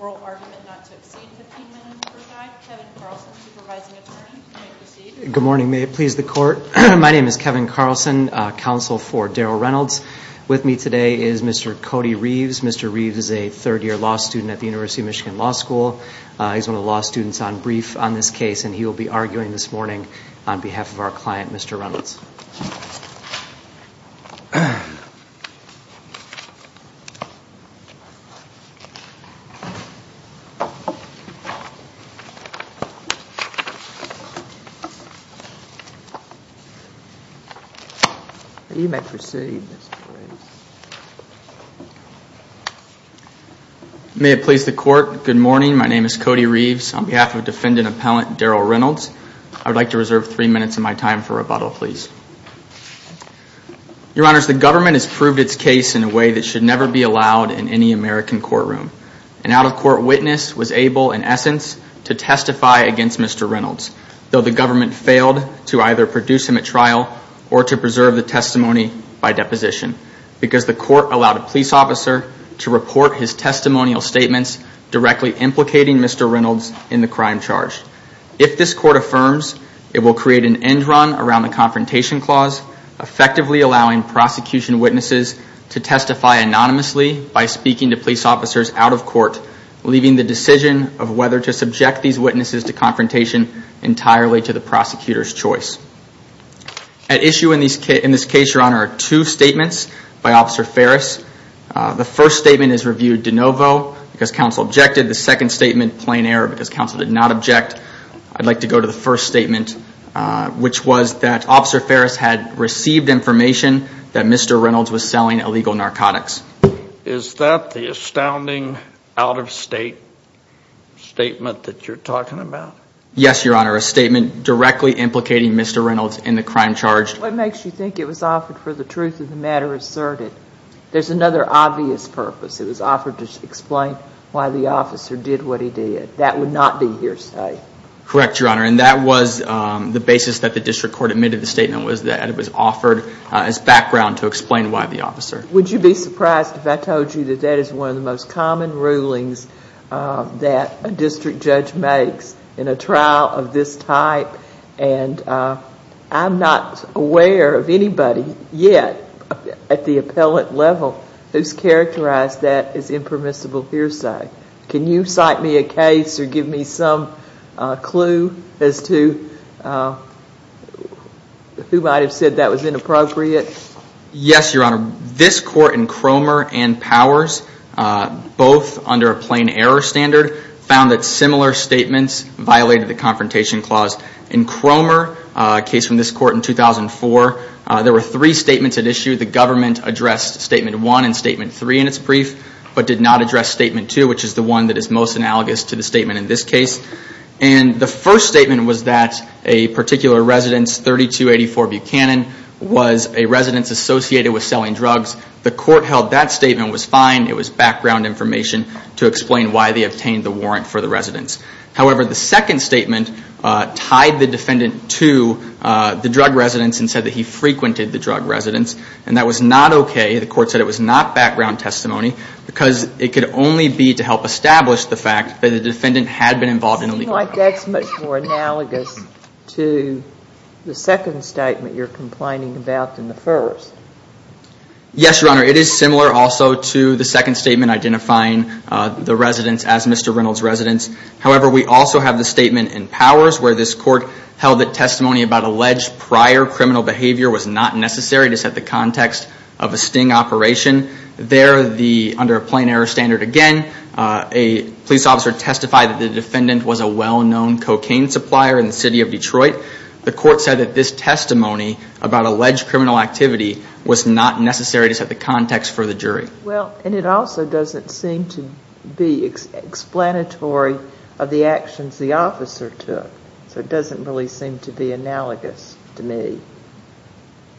Oral argument not to exceed 15 minutes per guide. Kevin Carlson, Supervising Attorney. Good morning, may it please the court. My name is Kevin Carlson, counsel for Darrell Reynolds. With me today is Mr. Cody Reeves. Mr. Reeves is a third year law student at He will be arguing this morning on behalf of our client, Mr. Reynolds. May it please the court, good morning, my name is Cody Reeves. On behalf of defendant and appellant Darrell Reynolds, I would like to reserve three minutes of my time for rebuttal. Your honors, the government has proved its case in a way that should never be allowed in any American courtroom. An out-of-court witness was able, in essence, to testify against Mr. Reynolds, though the government failed to either produce him at trial or to preserve the testimony by deposition because the court allowed a police officer to report his testimonial statements directly implicating Mr. Reynolds in the crime charge. If this court affirms, it will create an end run around the confrontation clause, effectively allowing prosecution witnesses to testify anonymously by speaking to police officers out of court, leaving the decision of whether to subject these witnesses to confrontation entirely to the prosecutor's choice. At issue in this case, your honor, are two statements by Officer Ferris. The first statement is reviewed de novo because counsel objected. The second statement, plain error because counsel did not object. I'd like to go to the first statement, which was that Officer Ferris had received information that Mr. Reynolds was selling illegal narcotics. Is that the astounding out-of-state statement that you're talking about? Yes, your honor, a statement directly implicating Mr. Reynolds in the crime charge. What makes you think it was offered for the truth of the matter asserted? There's another obvious purpose. It was offered to explain why the officer did what he did. That would not be hearsay. Correct, your honor, and that was the basis that the district court admitted the statement was that it was offered as background to explain why the officer. Would you be surprised if I told you that that is one of the most common rulings that a district judge makes in a trial of this type, and I'm not aware of anybody yet at the appellate level who's characterized that as impermissible hearsay. Can you cite me a case or give me some clue as to who might have said that was inappropriate? Yes, your honor. This court in Cromer and Powers, both under a plain error standard, found that similar statements violated the confrontation clause. In Cromer, a case from this court in 2004, there were three statements at issue. The government addressed statement one and statement three in its brief, but did not address statement two, which is the one that is most analogous to the statement in this case. The first statement was that a particular residence, 3284 Buchanan, was a residence associated with selling drugs. The court held that statement was fine. It was background evidence. However, the second statement tied the defendant to the drug residence and said that he frequented the drug residence, and that was not okay. The court said it was not background testimony because it could only be to help establish the fact that the defendant had been involved in illegal drugs. It seems like that's much more analogous to the second statement you're complaining about than the first. Yes, your honor. It is similar also to the second statement identifying the residence as Mr. Reynolds' residence. However, we also have the statement in Powers where this court held that testimony about alleged prior criminal behavior was not necessary to set the context of a sting operation. There, under a plain error standard again, a police officer testified that the defendant was a well-known cocaine supplier in the city of Detroit. The court said that this testimony about alleged criminal activity was not necessary to set the context for the jury. Well, and it also doesn't seem to be explanatory of the actions the officer took, so it doesn't really seem to be analogous to me.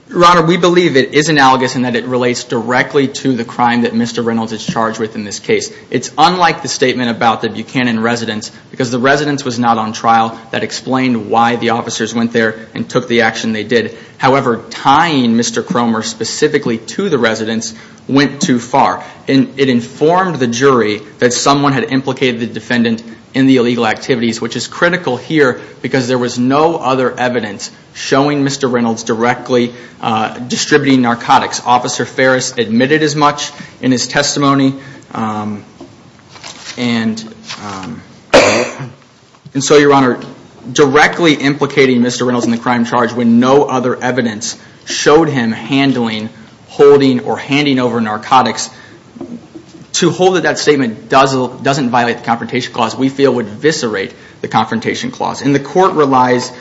Your honor, we believe it is analogous in that it relates directly to the crime that Mr. Reynolds is charged with in this case. It's unlike the statement about the Buchanan residence because the residence was not on trial that explained why the officers went there and took the action they did. However, tying Mr. Cromer specifically to the residence went too far. And it informed the jury that someone had implicated the defendant in the illegal activities, which is critical here because there was no other evidence showing Mr. Reynolds directly distributing narcotics. Officer Ferris admitted as much in his testimony. And so, your honor, directly implicating Mr. Reynolds in the crime charge when no other evidence showed him handling, holding, or handing over narcotics, to hold that that statement doesn't violate the Confrontation Clause, we feel would eviscerate the Confrontation Clause. And the court relies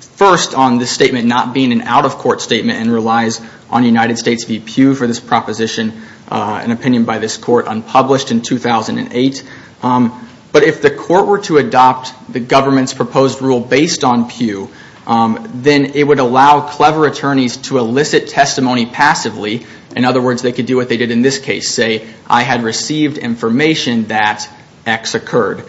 first on this statement not being an out-of-court statement and relies on United States v. Pew for this proposition, an opinion by this court unpublished in 2008. But if the court were to adopt the government's proposed rule based on Pew, then it would allow clever attorneys to elicit testimony passively. In other words, they could do what they did in this case, say, I had received information that X occurred.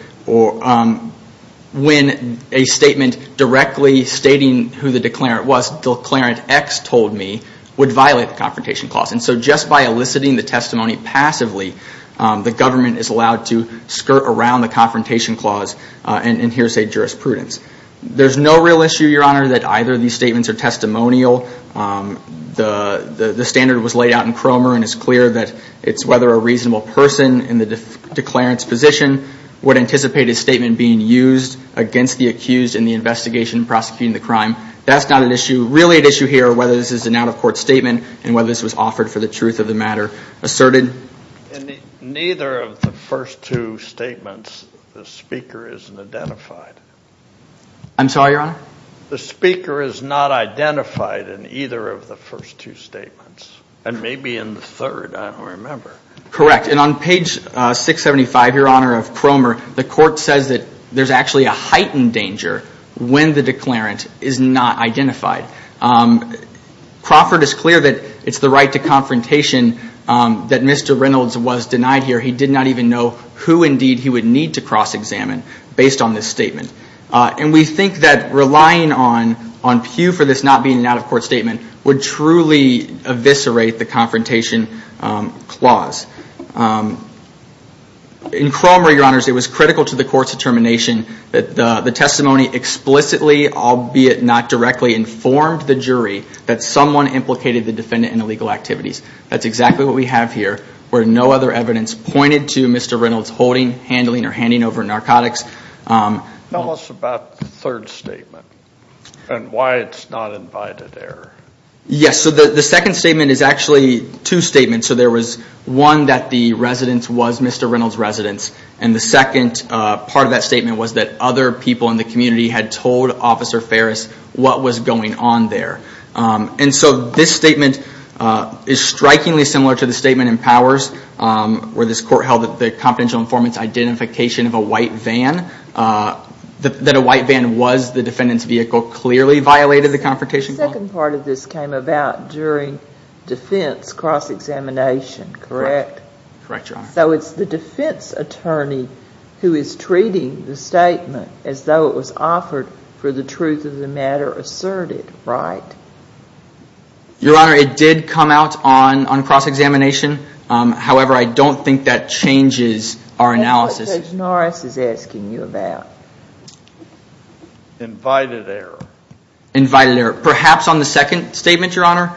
When a statement directly stating who the declarant was, declarant X told me, would violate the Confrontation Clause. And so just by eliciting the testimony passively, the government is allowed to skirt around the Confrontation Clause and hear, say, jurisprudence. There's no real issue, your honor, that either of these statements are testimonial. The standard was laid out in Cromer and it's clear that it's whether a reasonable person in the declarant's position would anticipate a statement being used against the accused in the investigation prosecuting the crime. That's not an issue, really an issue here, whether this is an out-of-court statement and whether this was offered for the truth of the matter asserted. In neither of the first two statements, the speaker isn't identified. I'm sorry, your honor? The speaker is not identified in either of the first two statements. And maybe in the third, I don't remember. Correct. And on page 675, your honor, of Cromer, the court says that there's actually a heightened danger when the declarant is not identified. Crawford is clear that it's the right to confrontation that Mr. Reynolds was denied here. He did not even know who, indeed, he would need to cross-examine based on this statement. And we think that relying on Pew for this not being an out-of-court statement would truly eviscerate the Confrontation Clause. In Cromer, your honors, it was critical to the court's determination that the testimony explicitly, albeit not directly, informed the jury that someone implicated the defendant in illegal activities. That's exactly what we have here, where no other evidence pointed to Mr. Reynolds holding, handling, or handing over narcotics. Tell us about the third statement and why it's not invited error. Yes, so the second statement is actually two statements. So there was one that the residence was Mr. Reynolds' residence, and the second part of that statement was that other people in the community had told Officer Ferris what was going on there. And so this statement is strikingly similar to the statement in Powers, where this court held that the confidential informant's identification of a white van, that a white van was the defendant's vehicle, clearly violated the Confrontation Clause. The second part of this came about during defense cross-examination, correct? Correct, your honor. So it's the defense attorney who is treating the statement as though it was offered for the truth of the matter asserted, right? Your honor, it did come out on cross-examination. However, I don't think that changes our analysis. What is it that Judge Norris is asking you about? Invited error. Invited error. Perhaps on the second statement, your honor?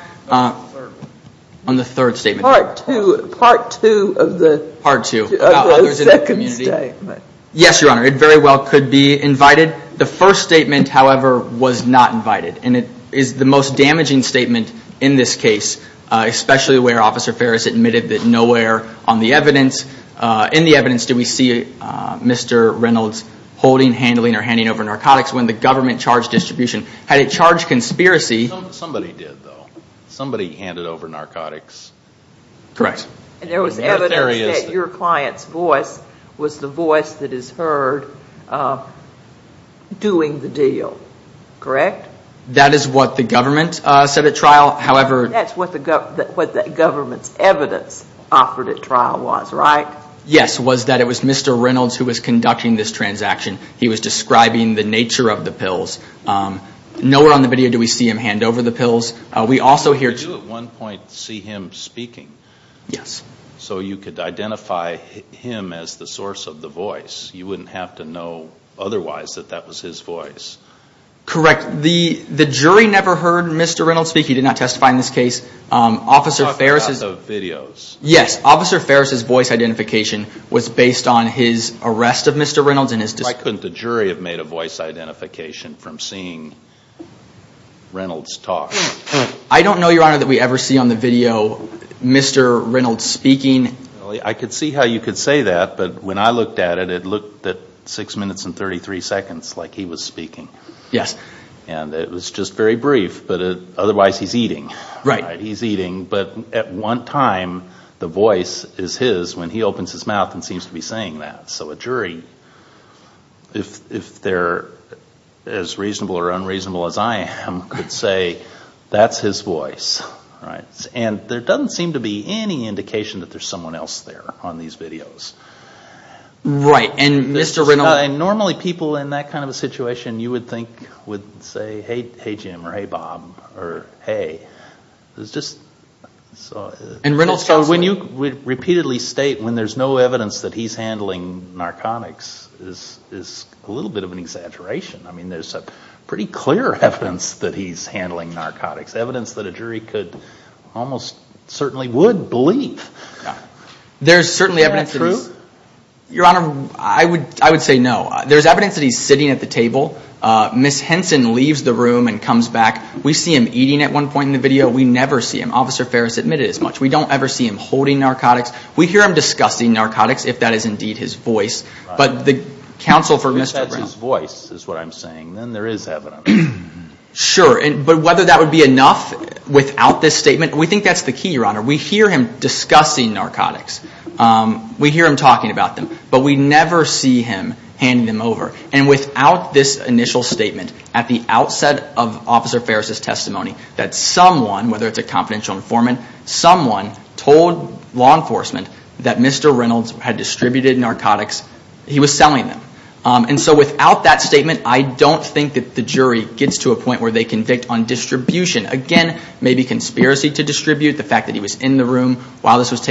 On the third statement. Part two, part two of the second statement. Yes, your honor. It very well could be invited. The first statement, however, was not invited. And it is the most damaging statement in this case, especially where Officer Ferris admitted that nowhere on the evidence, in the evidence, do we see Mr. Reynolds holding, handling, or handing over narcotics when the government charged distribution. Had it charged conspiracy. Somebody did, though. Somebody handed over narcotics. Correct. And there was evidence that your client's voice was the voice that is heard doing the deal, correct? That is what the government said at trial, however. That's what the government's evidence offered at trial was, right? Yes, was that it was Mr. Reynolds who was conducting this transaction. He was describing the nature of the pills. Nowhere on the video do we see him hand over the pills. We also hear... But you at one point see him speaking. Yes. So you could identify him as the source of the voice. You wouldn't have to know otherwise that that was his voice. Correct. The jury never heard Mr. Reynolds speak. He did not testify in this case. Officer Ferris... Talked about the videos. Yes. Officer Ferris' voice identification was based on his arrest of Mr. Reynolds and his... Why couldn't the jury have made a voice identification from seeing Reynolds talk? I don't know, Your Honor, that we ever see on the video Mr. Reynolds speaking. I could see how you could say that, but when I looked at it, it looked at six minutes and thirty-three seconds like he was speaking. Yes. And it was just very brief, but otherwise he's eating. Right. He's eating, but at one time the voice is his when he opens his mouth and seems to be saying that. So a jury, if they're as reasonable or unreasonable as I am, could say that's his voice. And there doesn't seem to be any indication that there's someone else there on these videos. Right. And Mr. Reynolds... Normally people in that kind of a situation you would think would say, hey Jim or hey or hey. It's just... And Reynolds... So when you repeatedly state when there's no evidence that he's handling narcotics is a little bit of an exaggeration. I mean, there's a pretty clear evidence that he's handling narcotics, evidence that a jury could almost certainly would believe. There's certainly evidence... Is that true? Your Honor, I would say no. There's evidence that he's sitting at the table. Ms. Henson leaves the room and comes back. We see him eating at one point in the video. We never see him. Officer Ferris admitted as much. We don't ever see him holding narcotics. We hear him discussing narcotics, if that is indeed his voice. But the counsel for Mr. Reynolds... If that's his voice is what I'm saying, then there is evidence. Sure. But whether that would be enough without this statement, we think that's the key, Your Honor. We hear him discussing narcotics. We hear him talking about them. But we never see him handing them over. And without this initial statement at the outset of Officer Ferris' testimony that someone, whether it's a confidential informant, someone told law enforcement that Mr. Reynolds had distributed narcotics, he was selling them. And so without that statement, I don't think that the jury gets to a point where they convict on distribution. Again, maybe conspiracy to distribute, the fact that he was in the room while this was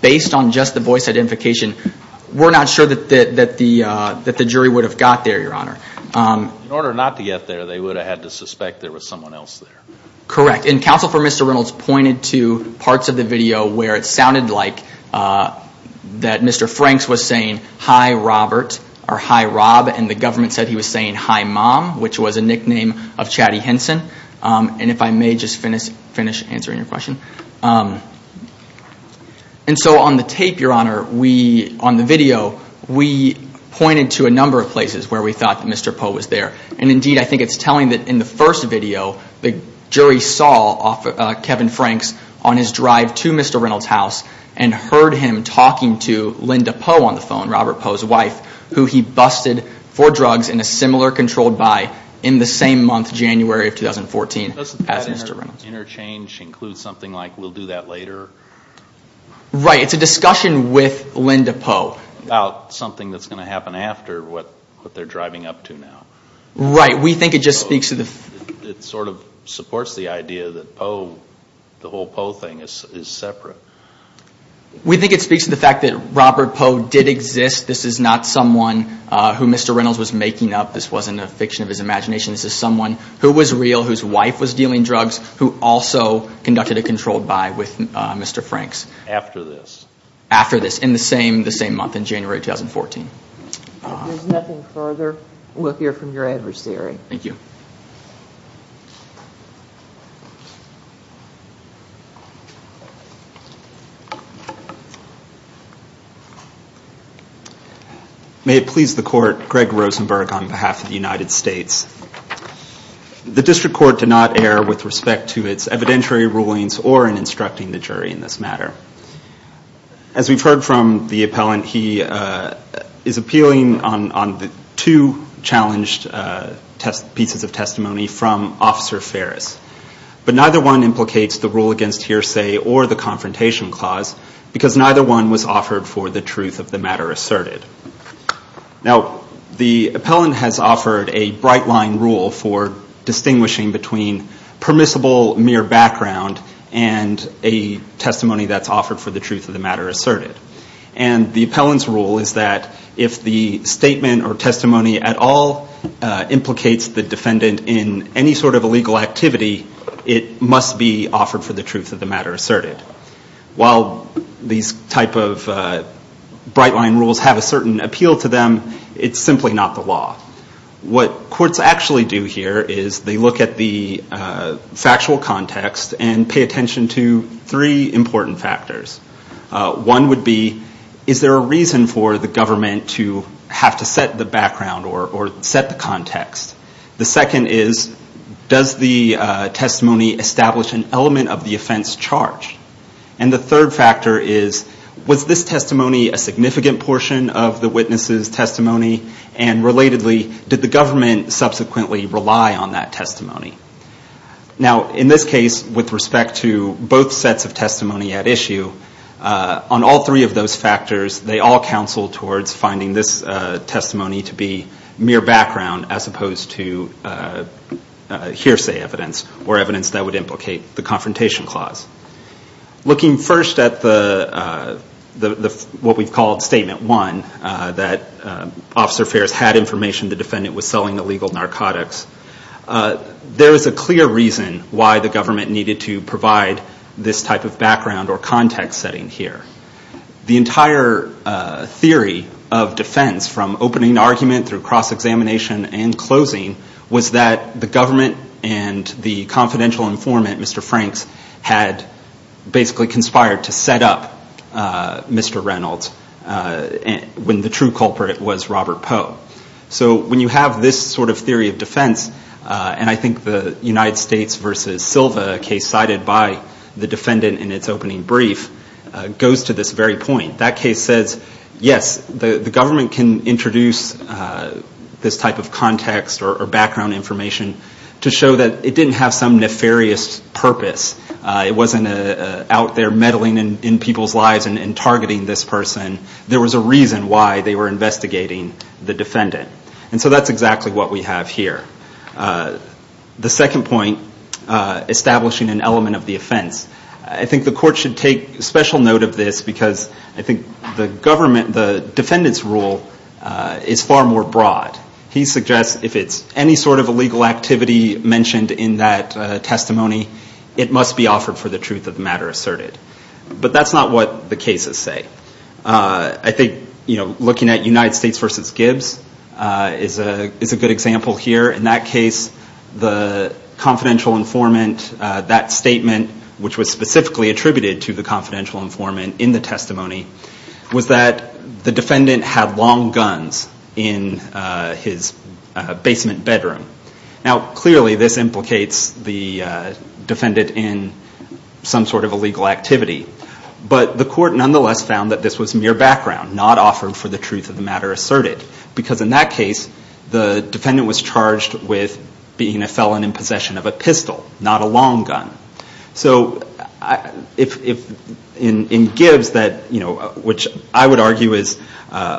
based on just the voice identification, we're not sure that the jury would have got there, Your Honor. In order not to get there, they would have had to suspect there was someone else there. Correct. And counsel for Mr. Reynolds pointed to parts of the video where it sounded like that Mr. Franks was saying, hi Robert, or hi Rob, and the government said he was saying hi mom, which was a nickname of Chatty Henson. And if I may just finish answering your question. And so on the tape, Your Honor, on the video, we pointed to a number of places where we thought that Mr. Poe was there. And indeed, I think it's telling that in the first video, the jury saw Kevin Franks on his drive to Mr. Reynolds' house and heard him talking to Linda Poe on the phone, Robert Poe's wife, who he busted for drugs in a similar controlled buy in the same month, January of 2014, as Mr. Reynolds. Interchange includes something like, we'll do that later? Right. It's a discussion with Linda Poe. About something that's going to happen after what they're driving up to now. Right. We think it just speaks to the... It sort of supports the idea that Poe, the whole Poe thing is separate. We think it speaks to the fact that Robert Poe did exist. This is not someone who Mr. Reynolds was making up. This wasn't a fiction of his imagination. This is someone who was real, whose wife was dealing drugs, who also conducted a controlled buy with Mr. Franks. After this? After this, in the same month, in January 2014. If there's nothing further, we'll hear from your adversary. Thank you. May it please the court, Greg Rosenberg on behalf of the United States. The district court did not err with respect to its evidentiary rulings or in instructing the jury in this matter. As we've heard from the appellant, he is appealing on the two challenged test pieces of testimony from Officer Ferris. But neither one implicates the rule against hearsay or the confrontation clause, because neither one was offered for the truth of the matter asserted. Now, the appellant has offered a bright line rule for distinguishing between permissible mere background and a testimony that's offered for the truth of the matter asserted. And the appellant's rule is that if the statement or testimony at all implicates the defendant in any sort of illegal activity, it must be offered for the truth of the matter asserted. While these type of bright line rules have a certain appeal to them, it's simply not the law. What courts actually do here is they look at the factual context and pay attention to three important factors. One would be, is there a reason for the government to have to set the background or set the context? The second is, does the testimony establish an element of the offense charged? And the third factor is, was this testimony a significant portion of the witness's testimony? And relatedly, did the government subsequently rely on that testimony at issue? On all three of those factors, they all counsel towards finding this testimony to be mere background as opposed to hearsay evidence or evidence that would implicate the confrontation clause. Looking first at what we've called Statement 1, that Officer Fares had information the defendant was selling illegal narcotics, there is a clear reason why the government needed to provide this type of background or context setting here. The entire theory of defense from opening argument through cross-examination and closing was that the government and the confidential informant, Mr. Franks, had basically conspired to set up Mr. Reynolds when the true culprit was Robert Poe. So when you have this sort of theory of defense, and I think the United States v. Silva case decided by the defendant in its opening brief, goes to this very point. That case says, yes, the government can introduce this type of context or background information to show that it didn't have some nefarious purpose. It wasn't out there meddling in people's lives and targeting this person. There was a reason why they were investigating the defendant. And so that's exactly what we have here. The second point, establishing an element of the offense. I think the court should take special note of this because I think the defendant's rule is far more broad. He suggests if it's any sort of illegal activity mentioned in that testimony, it must be offered for the truth of the matter asserted. But that's not what the cases say. I think looking at United States v. Gibbs is a good example here. In that case, the confidential informant, that statement, which was specifically attributed to the confidential informant in the testimony, was that the defendant had long guns in his basement bedroom. Now clearly this implicates the defendant in some sort of illegal activity. But the court nonetheless found that this was mere background, not offered for the truth of the matter asserted. Because in that case, the defendant was charged with being a felon in possession of a pistol, not a long gun. So in Gibbs, which I would argue is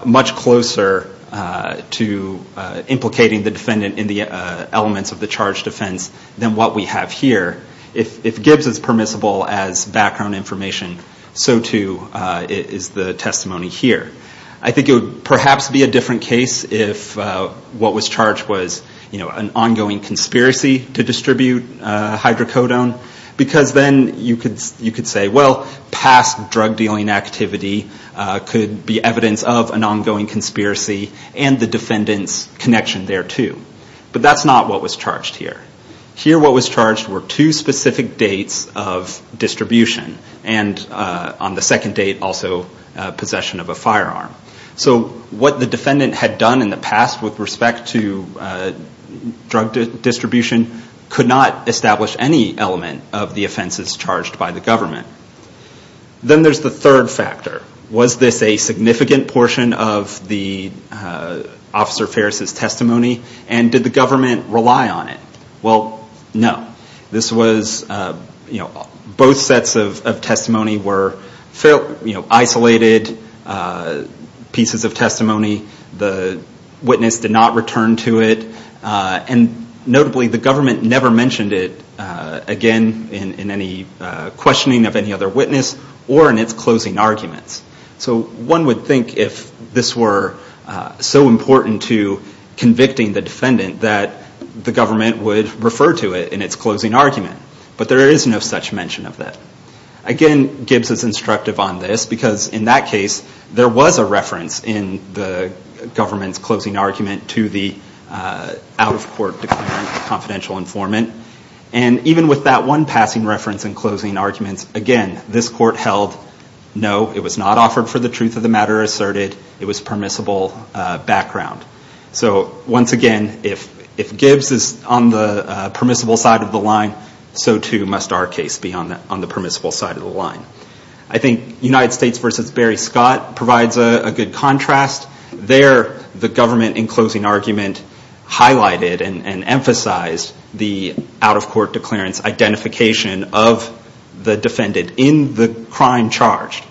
much closer to implicating the defendant in the elements of the charge defense than what we have here, if Gibbs is permissible as background information, so too is the testimony here. I think it would perhaps be a different case if what was charged was an ongoing conspiracy to distribute hydrocodone. Because then you could say, well, past drug dealing activity could be evidence of an ongoing conspiracy and the defendant's connection there too. But that's not what was charged here. Here what was charged were two specific dates of distribution. And on the second date, also possession of a firearm. So what the defendant had done in the past with respect to drug distribution could not establish any element of the offenses charged by the government. Then there's the third factor. Was this a significant portion of the Officer Ferris' testimony? And did the government rely on it? Well, no. This was both sets of testimony were isolated pieces of testimony. The witness did not return to it. And notably, the government never mentioned it again in any questioning of any other witness or in its closing arguments. So one would think if this were so important to convicting the defendant that the government would refer to it in its closing argument. But there is no such mention of that. Again, Gibbs is instructive on this because in that case, there was a reference in the government's closing argument to the out-of-court declarant, confidential informant. And even with that one passing reference in closing arguments, again, this court held no, it was not offered for the truth of the matter asserted. It was permissible background. So once again, if Gibbs is on the permissible side of the line, so too must our case be on the permissible side of the line. I think United States v. Barry Scott provides a good contrast. There, the government in the declarant's identification of the defendant in the crime charged.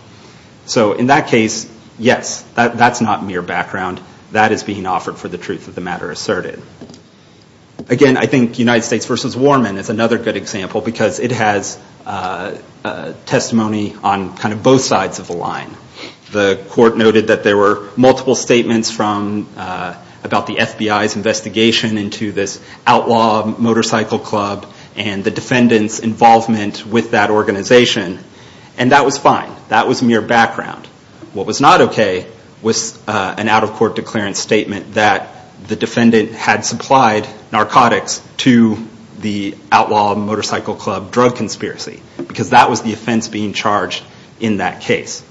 So in that case, yes, that's not mere background. That is being offered for the truth of the matter asserted. Again, I think United States v. Warman is another good example because it has testimony on kind of both sides of the line. The court noted that there were multiple statements from about the FBI's investigation into this outlaw motorcycle club and the defendant's involvement with that organization. And that was fine. That was mere background. What was not okay was an out-of-court declarant statement that the defendant had supplied narcotics to the outlaw motorcycle club drug conspiracy because that was the offense being charged in that case.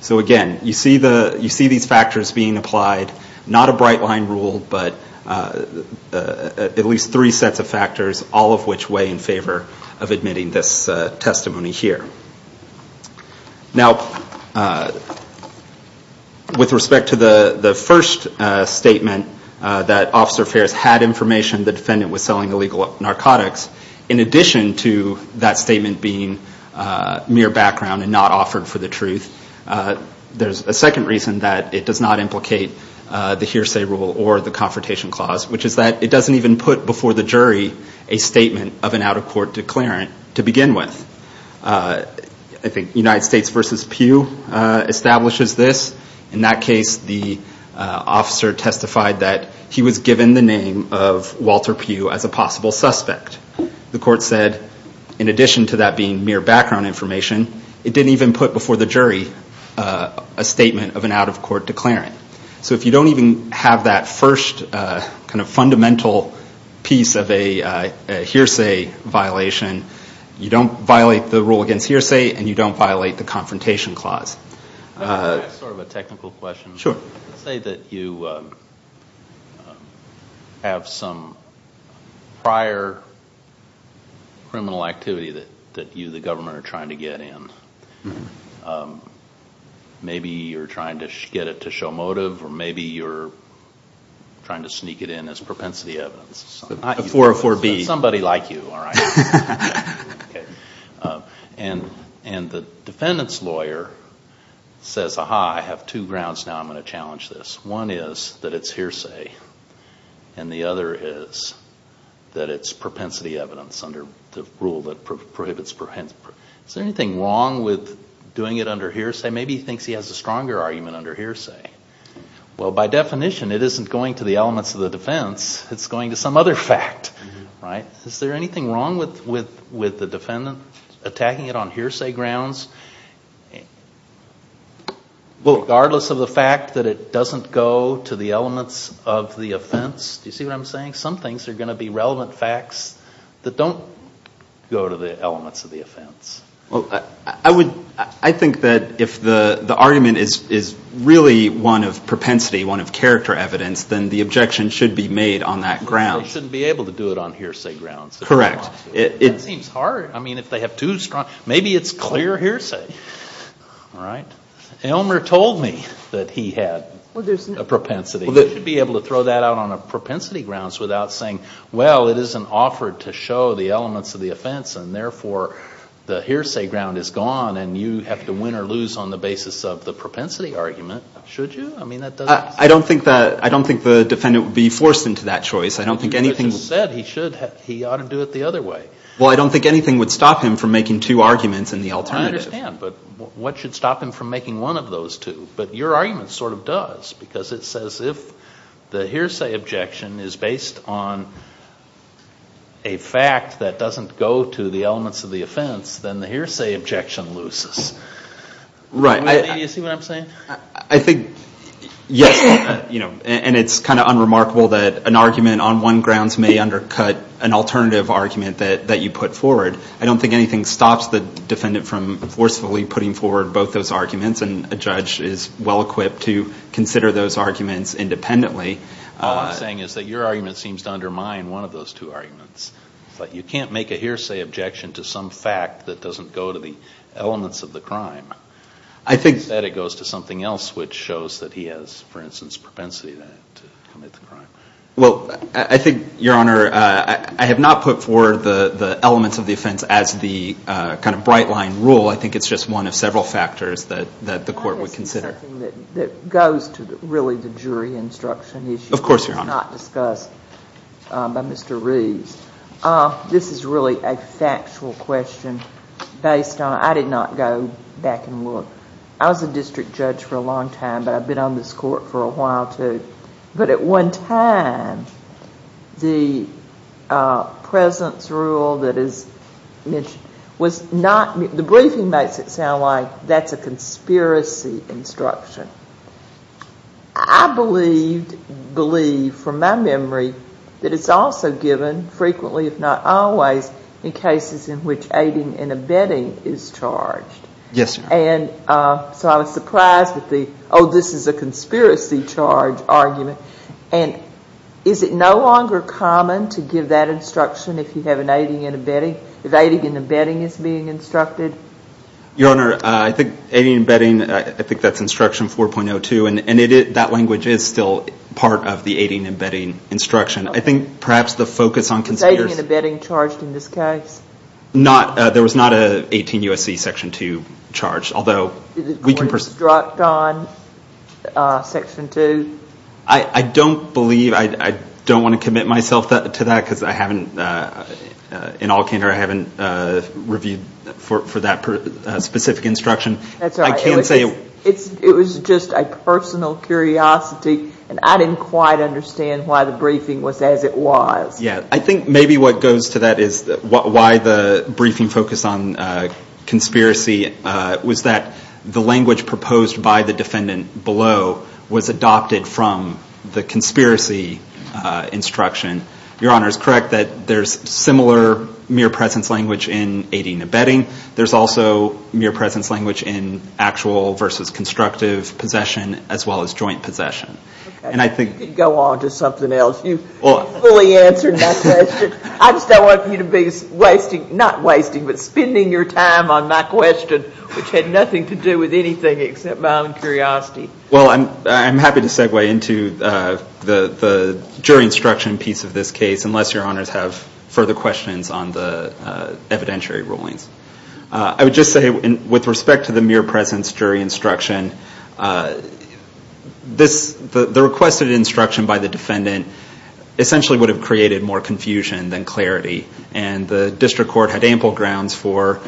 So again, you see these factors being applied. Not a bright line rule, but at least three sets of factors, all of which weigh in favor of admitting this testimony here. With respect to the first statement that Officer Fares had information the defendant was selling mere background and not offered for the truth, there's a second reason that it does not implicate the hearsay rule or the confrontation clause, which is that it doesn't even put before the jury a statement of an out-of-court declarant to begin with. I think United States v. Pugh establishes this. In that case, the officer testified that he was given the name of Walter Pugh as a possible suspect. The court said, in addition to that being mere background information, it didn't even put before the jury a statement of an out-of-court declarant. So if you don't even have that first kind of fundamental piece of a hearsay violation, you don't violate the rule against hearsay and you don't violate the confrontation clause. I have sort of a technical question. Let's say that you have some prior criminal activity that you, the government, are trying to get in. Maybe you're trying to get it to show motive or maybe you're trying to sneak it in as propensity evidence. The 404B. Somebody like you. And the defendant's lawyer says, aha, I have two grounds now I'm going to challenge this. One is that it's hearsay and the other is that it's propensity evidence under the rule that prohibits propensity evidence. Is there anything wrong with doing it under hearsay? Maybe he thinks he has a stronger argument under hearsay. Well, by definition, it isn't going to the elements of the defense. It's going to some other fact. Is there anything wrong with the defendant attacking it on hearsay grounds, regardless of the fact that it doesn't go to the elements of the offense? Do you see what I'm saying? Some things are going to be relevant facts that don't go to the elements of the offense. Well, I think that if the argument is really one of propensity, one of character evidence, then the objection should be made on that ground. So he shouldn't be able to do it on hearsay grounds. Correct. That seems hard. I mean, if they have two strong, maybe it's clear hearsay. All right. Elmer told me that he had a propensity. He should be able to throw that out on propensity grounds without saying, well, it isn't offered to show the elements of the offense and therefore the hearsay ground is gone and you have to win or lose on the basis of the propensity argument, should you? I mean, that doesn't... I don't think the defendant would be forced into that choice. I don't think anything... But you said he ought to do it the other way. Well, I don't think anything would stop him from making two arguments in the alternative. I understand, but what should stop him from making one of those two? But your argument sort of does, because it says if the hearsay objection is based on a fact that doesn't go to the elements of the offense, then the hearsay objection loses. Right. Do you see what I'm saying? I think, yes, and it's kind of unremarkable that an argument on one grounds may undercut an alternative argument that you put forward. I don't think anything stops the defendant from forcefully putting forward both those arguments and a judge is well-equipped to consider those arguments independently. All I'm saying is that your argument seems to undermine one of those two arguments, but you can't make a hearsay objection to some fact that doesn't go to the elements of the crime. I think that it goes to something else, which shows that he has, for instance, propensity to commit the crime. Well, I think, Your Honor, I have not put forward the elements of the offense as the kind of bright-line rule. I think it's just one of several factors that the Court would consider. That is something that goes to really the jury instruction issue. Of course, Your Honor. This is really a factual question. I did not go back and look. I was a district judge for a long time, but I've been on this Court for a while, too. But at one time, the presence rule that is mentioned, the briefing makes it sound like that's a conspiracy instruction. I believe, from my memory, that it's also given frequently, if not always, in cases in which aiding and abetting is charged. Yes, Your Honor. And so I was surprised with the, oh, this is a conspiracy charge argument. And is it no longer common to give that instruction if you have an aiding and abetting, if aiding and abetting is being instructed? Your Honor, I think aiding and abetting, I think that's Instruction 4.02, and that language is still part of the aiding and abetting instruction. I think perhaps the focus on conspiracy Is aiding and abetting charged in this case? There was not an 18 U.S.C. Section 2 charge, although we can Was it struck on Section 2? I don't believe, I don't want to commit myself to that, because I haven't, in all of the briefings, heard that specific instruction. That's all right. I can't say. It was just a personal curiosity, and I didn't quite understand why the briefing was as it was. Yeah, I think maybe what goes to that is why the briefing focused on conspiracy was that the language proposed by the defendant below was adopted from the conspiracy instruction. Your Honor is correct that there's similar mere presence language in aiding and abetting. There's also mere presence language in actual versus constructive possession, as well as joint possession. And I think... Go on to something else. You fully answered my question. I just don't want you to be wasting, not wasting, but spending your time on my question, which had nothing to do with anything except my own curiosity. Well, I'm happy to segue into the jury instruction piece of this case, unless Your Honors have further questions on the evidentiary rulings. I would just say, with respect to the mere presence jury instruction, the requested instruction by the defendant essentially would have created more confusion than clarity. And the district court had ample grounds for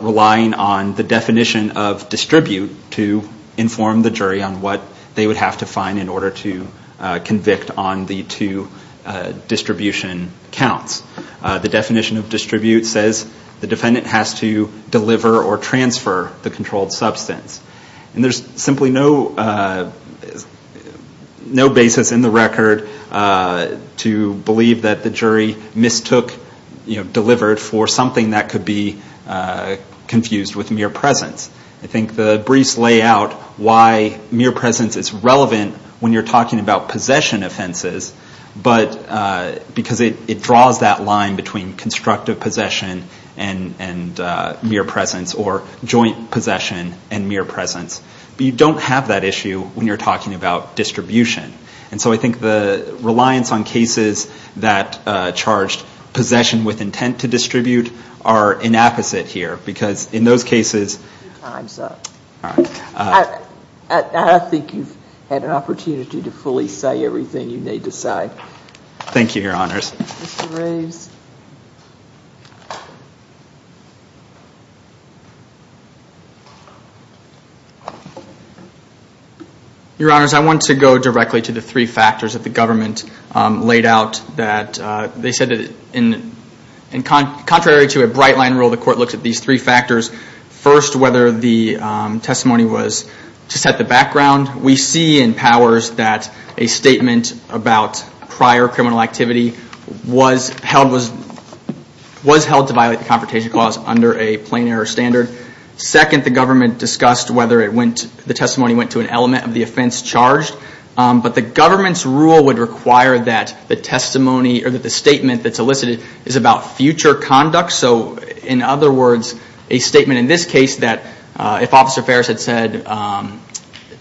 relying on the definition of distribute to inform the jury on what they would have to find in order to convict on the two distribution counts. The definition of distribute says the defendant has to deliver or transfer the controlled substance. And there's simply no basis in the record to believe that the jury mistook delivered for something that could be confused with mere presence. I think the briefs lay out why mere presence is relevant when you're talking about possession offenses, because it draws that line between constructive possession and mere presence or joint possession and mere presence. You don't have that issue when you're talking about distribution. And so I think the reliance on cases that charged possession with intent to distribute are inapposite here. Because in those cases... Thank you, Your Honors. Your Honors, I want to go directly to the three factors that the government laid out that they said that contrary to a bright line rule, the court looks at these three factors. First whether the testimony was to set the background. We see in Powers that a statement about prior criminal activity was held to violate the Confrontation Clause under a plain error standard. Second, the government discussed whether the testimony went to an element of the offense charged. But the government's rule would require that the testimony or that the statement that's elicited is about future conduct. So in other words, a statement in this case that if Officer Ferris had said, I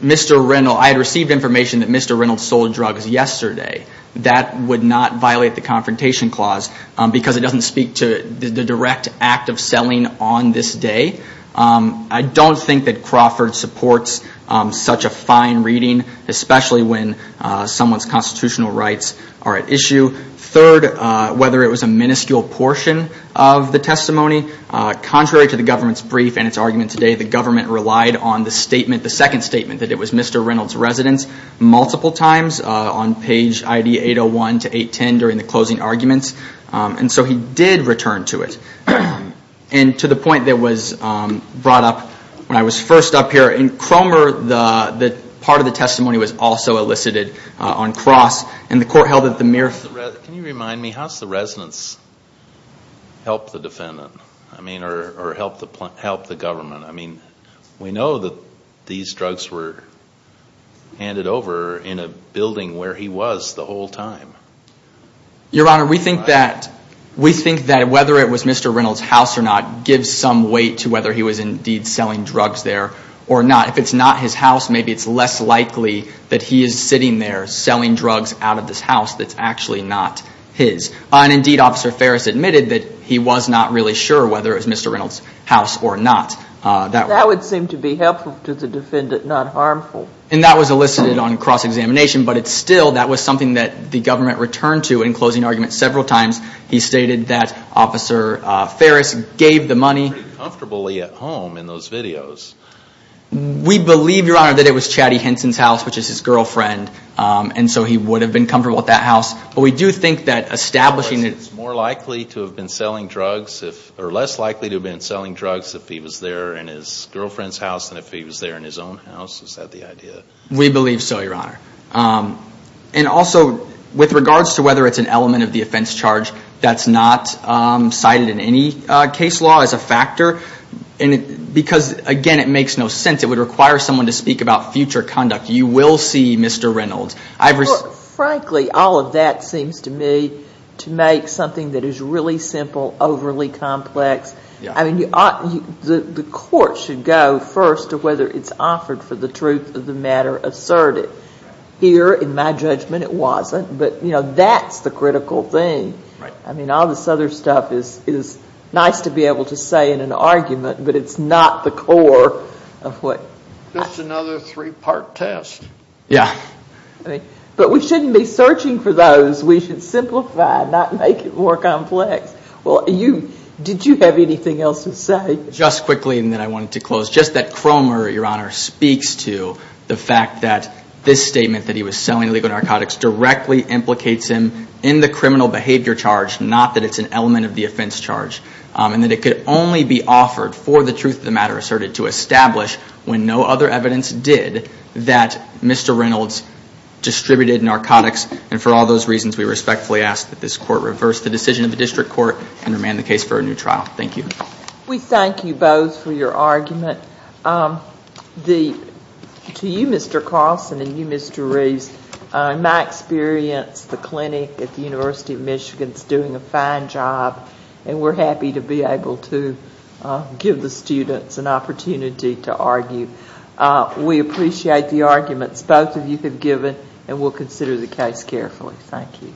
had received information that Mr. Reynolds sold drugs yesterday, that would not violate the Confrontation Clause because it doesn't speak to the direct act of selling on this day. I don't think that Crawford supports such a fine reading, especially when someone's constitutional rights are at issue. Third, whether it was a minuscule portion of the testimony. Contrary to the government's brief and its argument today, the government relied on the statement, the second statement, that it was Mr. Reynolds' residence multiple times on page 801 to 810 during the closing arguments. And so he did return to it. And to the point that was brought up when I was first up here, in Cromer the part of the testimony was also elicited on cross. And the court held it the mere... Can you remind me, how does the residence help the defendant? I mean, or help the government? I mean, we know that these drugs were handed over in a building where he was the whole time. Your Honor, we think that whether it was Mr. Reynolds' house or not gives some weight to whether he was indeed selling drugs there or not. If it's not his house, maybe it's less likely that he is sitting there selling drugs out of this house that's actually not his. And indeed, Officer Ferris admitted that he was not really sure whether it was Mr. Reynolds' house or not. That would seem to be helpful to the defendant, not harmful. And that was elicited on cross-examination. But it's still, that was something that the government returned to in closing arguments several times. He stated that Officer Ferris gave the money... ...pretty comfortably at home in those videos. We believe, Your Honor, that it was Chatty Henson's house, which is his girlfriend. And so he would have been comfortable at that house. But we do think that establishing... So it's more likely to have been selling drugs, or less likely to have been selling drugs if he was there in his girlfriend's house than if he was there in his own house? Is that the idea? We believe so, Your Honor. And also, with regards to whether it's an element of the offense charge that's not cited in any case law as a factor, because, again, it makes no sense. It would require someone to speak about future conduct. You will see Mr. Reynolds. Frankly, all of that seems to me to make something that is really simple overly complex. I mean, the court should go first to whether it's offered for the truth of the matter asserted. Here, in my judgment, it wasn't. But, you know, that's the critical thing. I mean, all this other stuff is nice to be able to say in an argument, but it's not the core of what... Just another three-part test. Yeah. But we shouldn't be searching for those. We should simplify, not make it more complex. Well, did you have anything else to say? Just quickly, and then I wanted to close. Just that Cromer, Your Honor, speaks to the fact that this statement that he was selling illegal narcotics directly implicates him in the criminal behavior charge, not that it's an element of the offense charge, and that it could only be offered for the truth of the matter asserted to establish, when no other evidence did, that Mr. Reynolds distributed narcotics, and for all those reasons, we respectfully ask that this court reverse the decision of the district court and remand the case for a new trial. Thank you. We thank you both for your argument. To you, Mr. Carlson, and you, Mr. Reeves, in my experience, the clinic at the University of Michigan is doing a fine job, and we're happy to be able to give the students an opportunity to argue. We appreciate the arguments both of you have given, and we'll consider the case carefully. Thank you.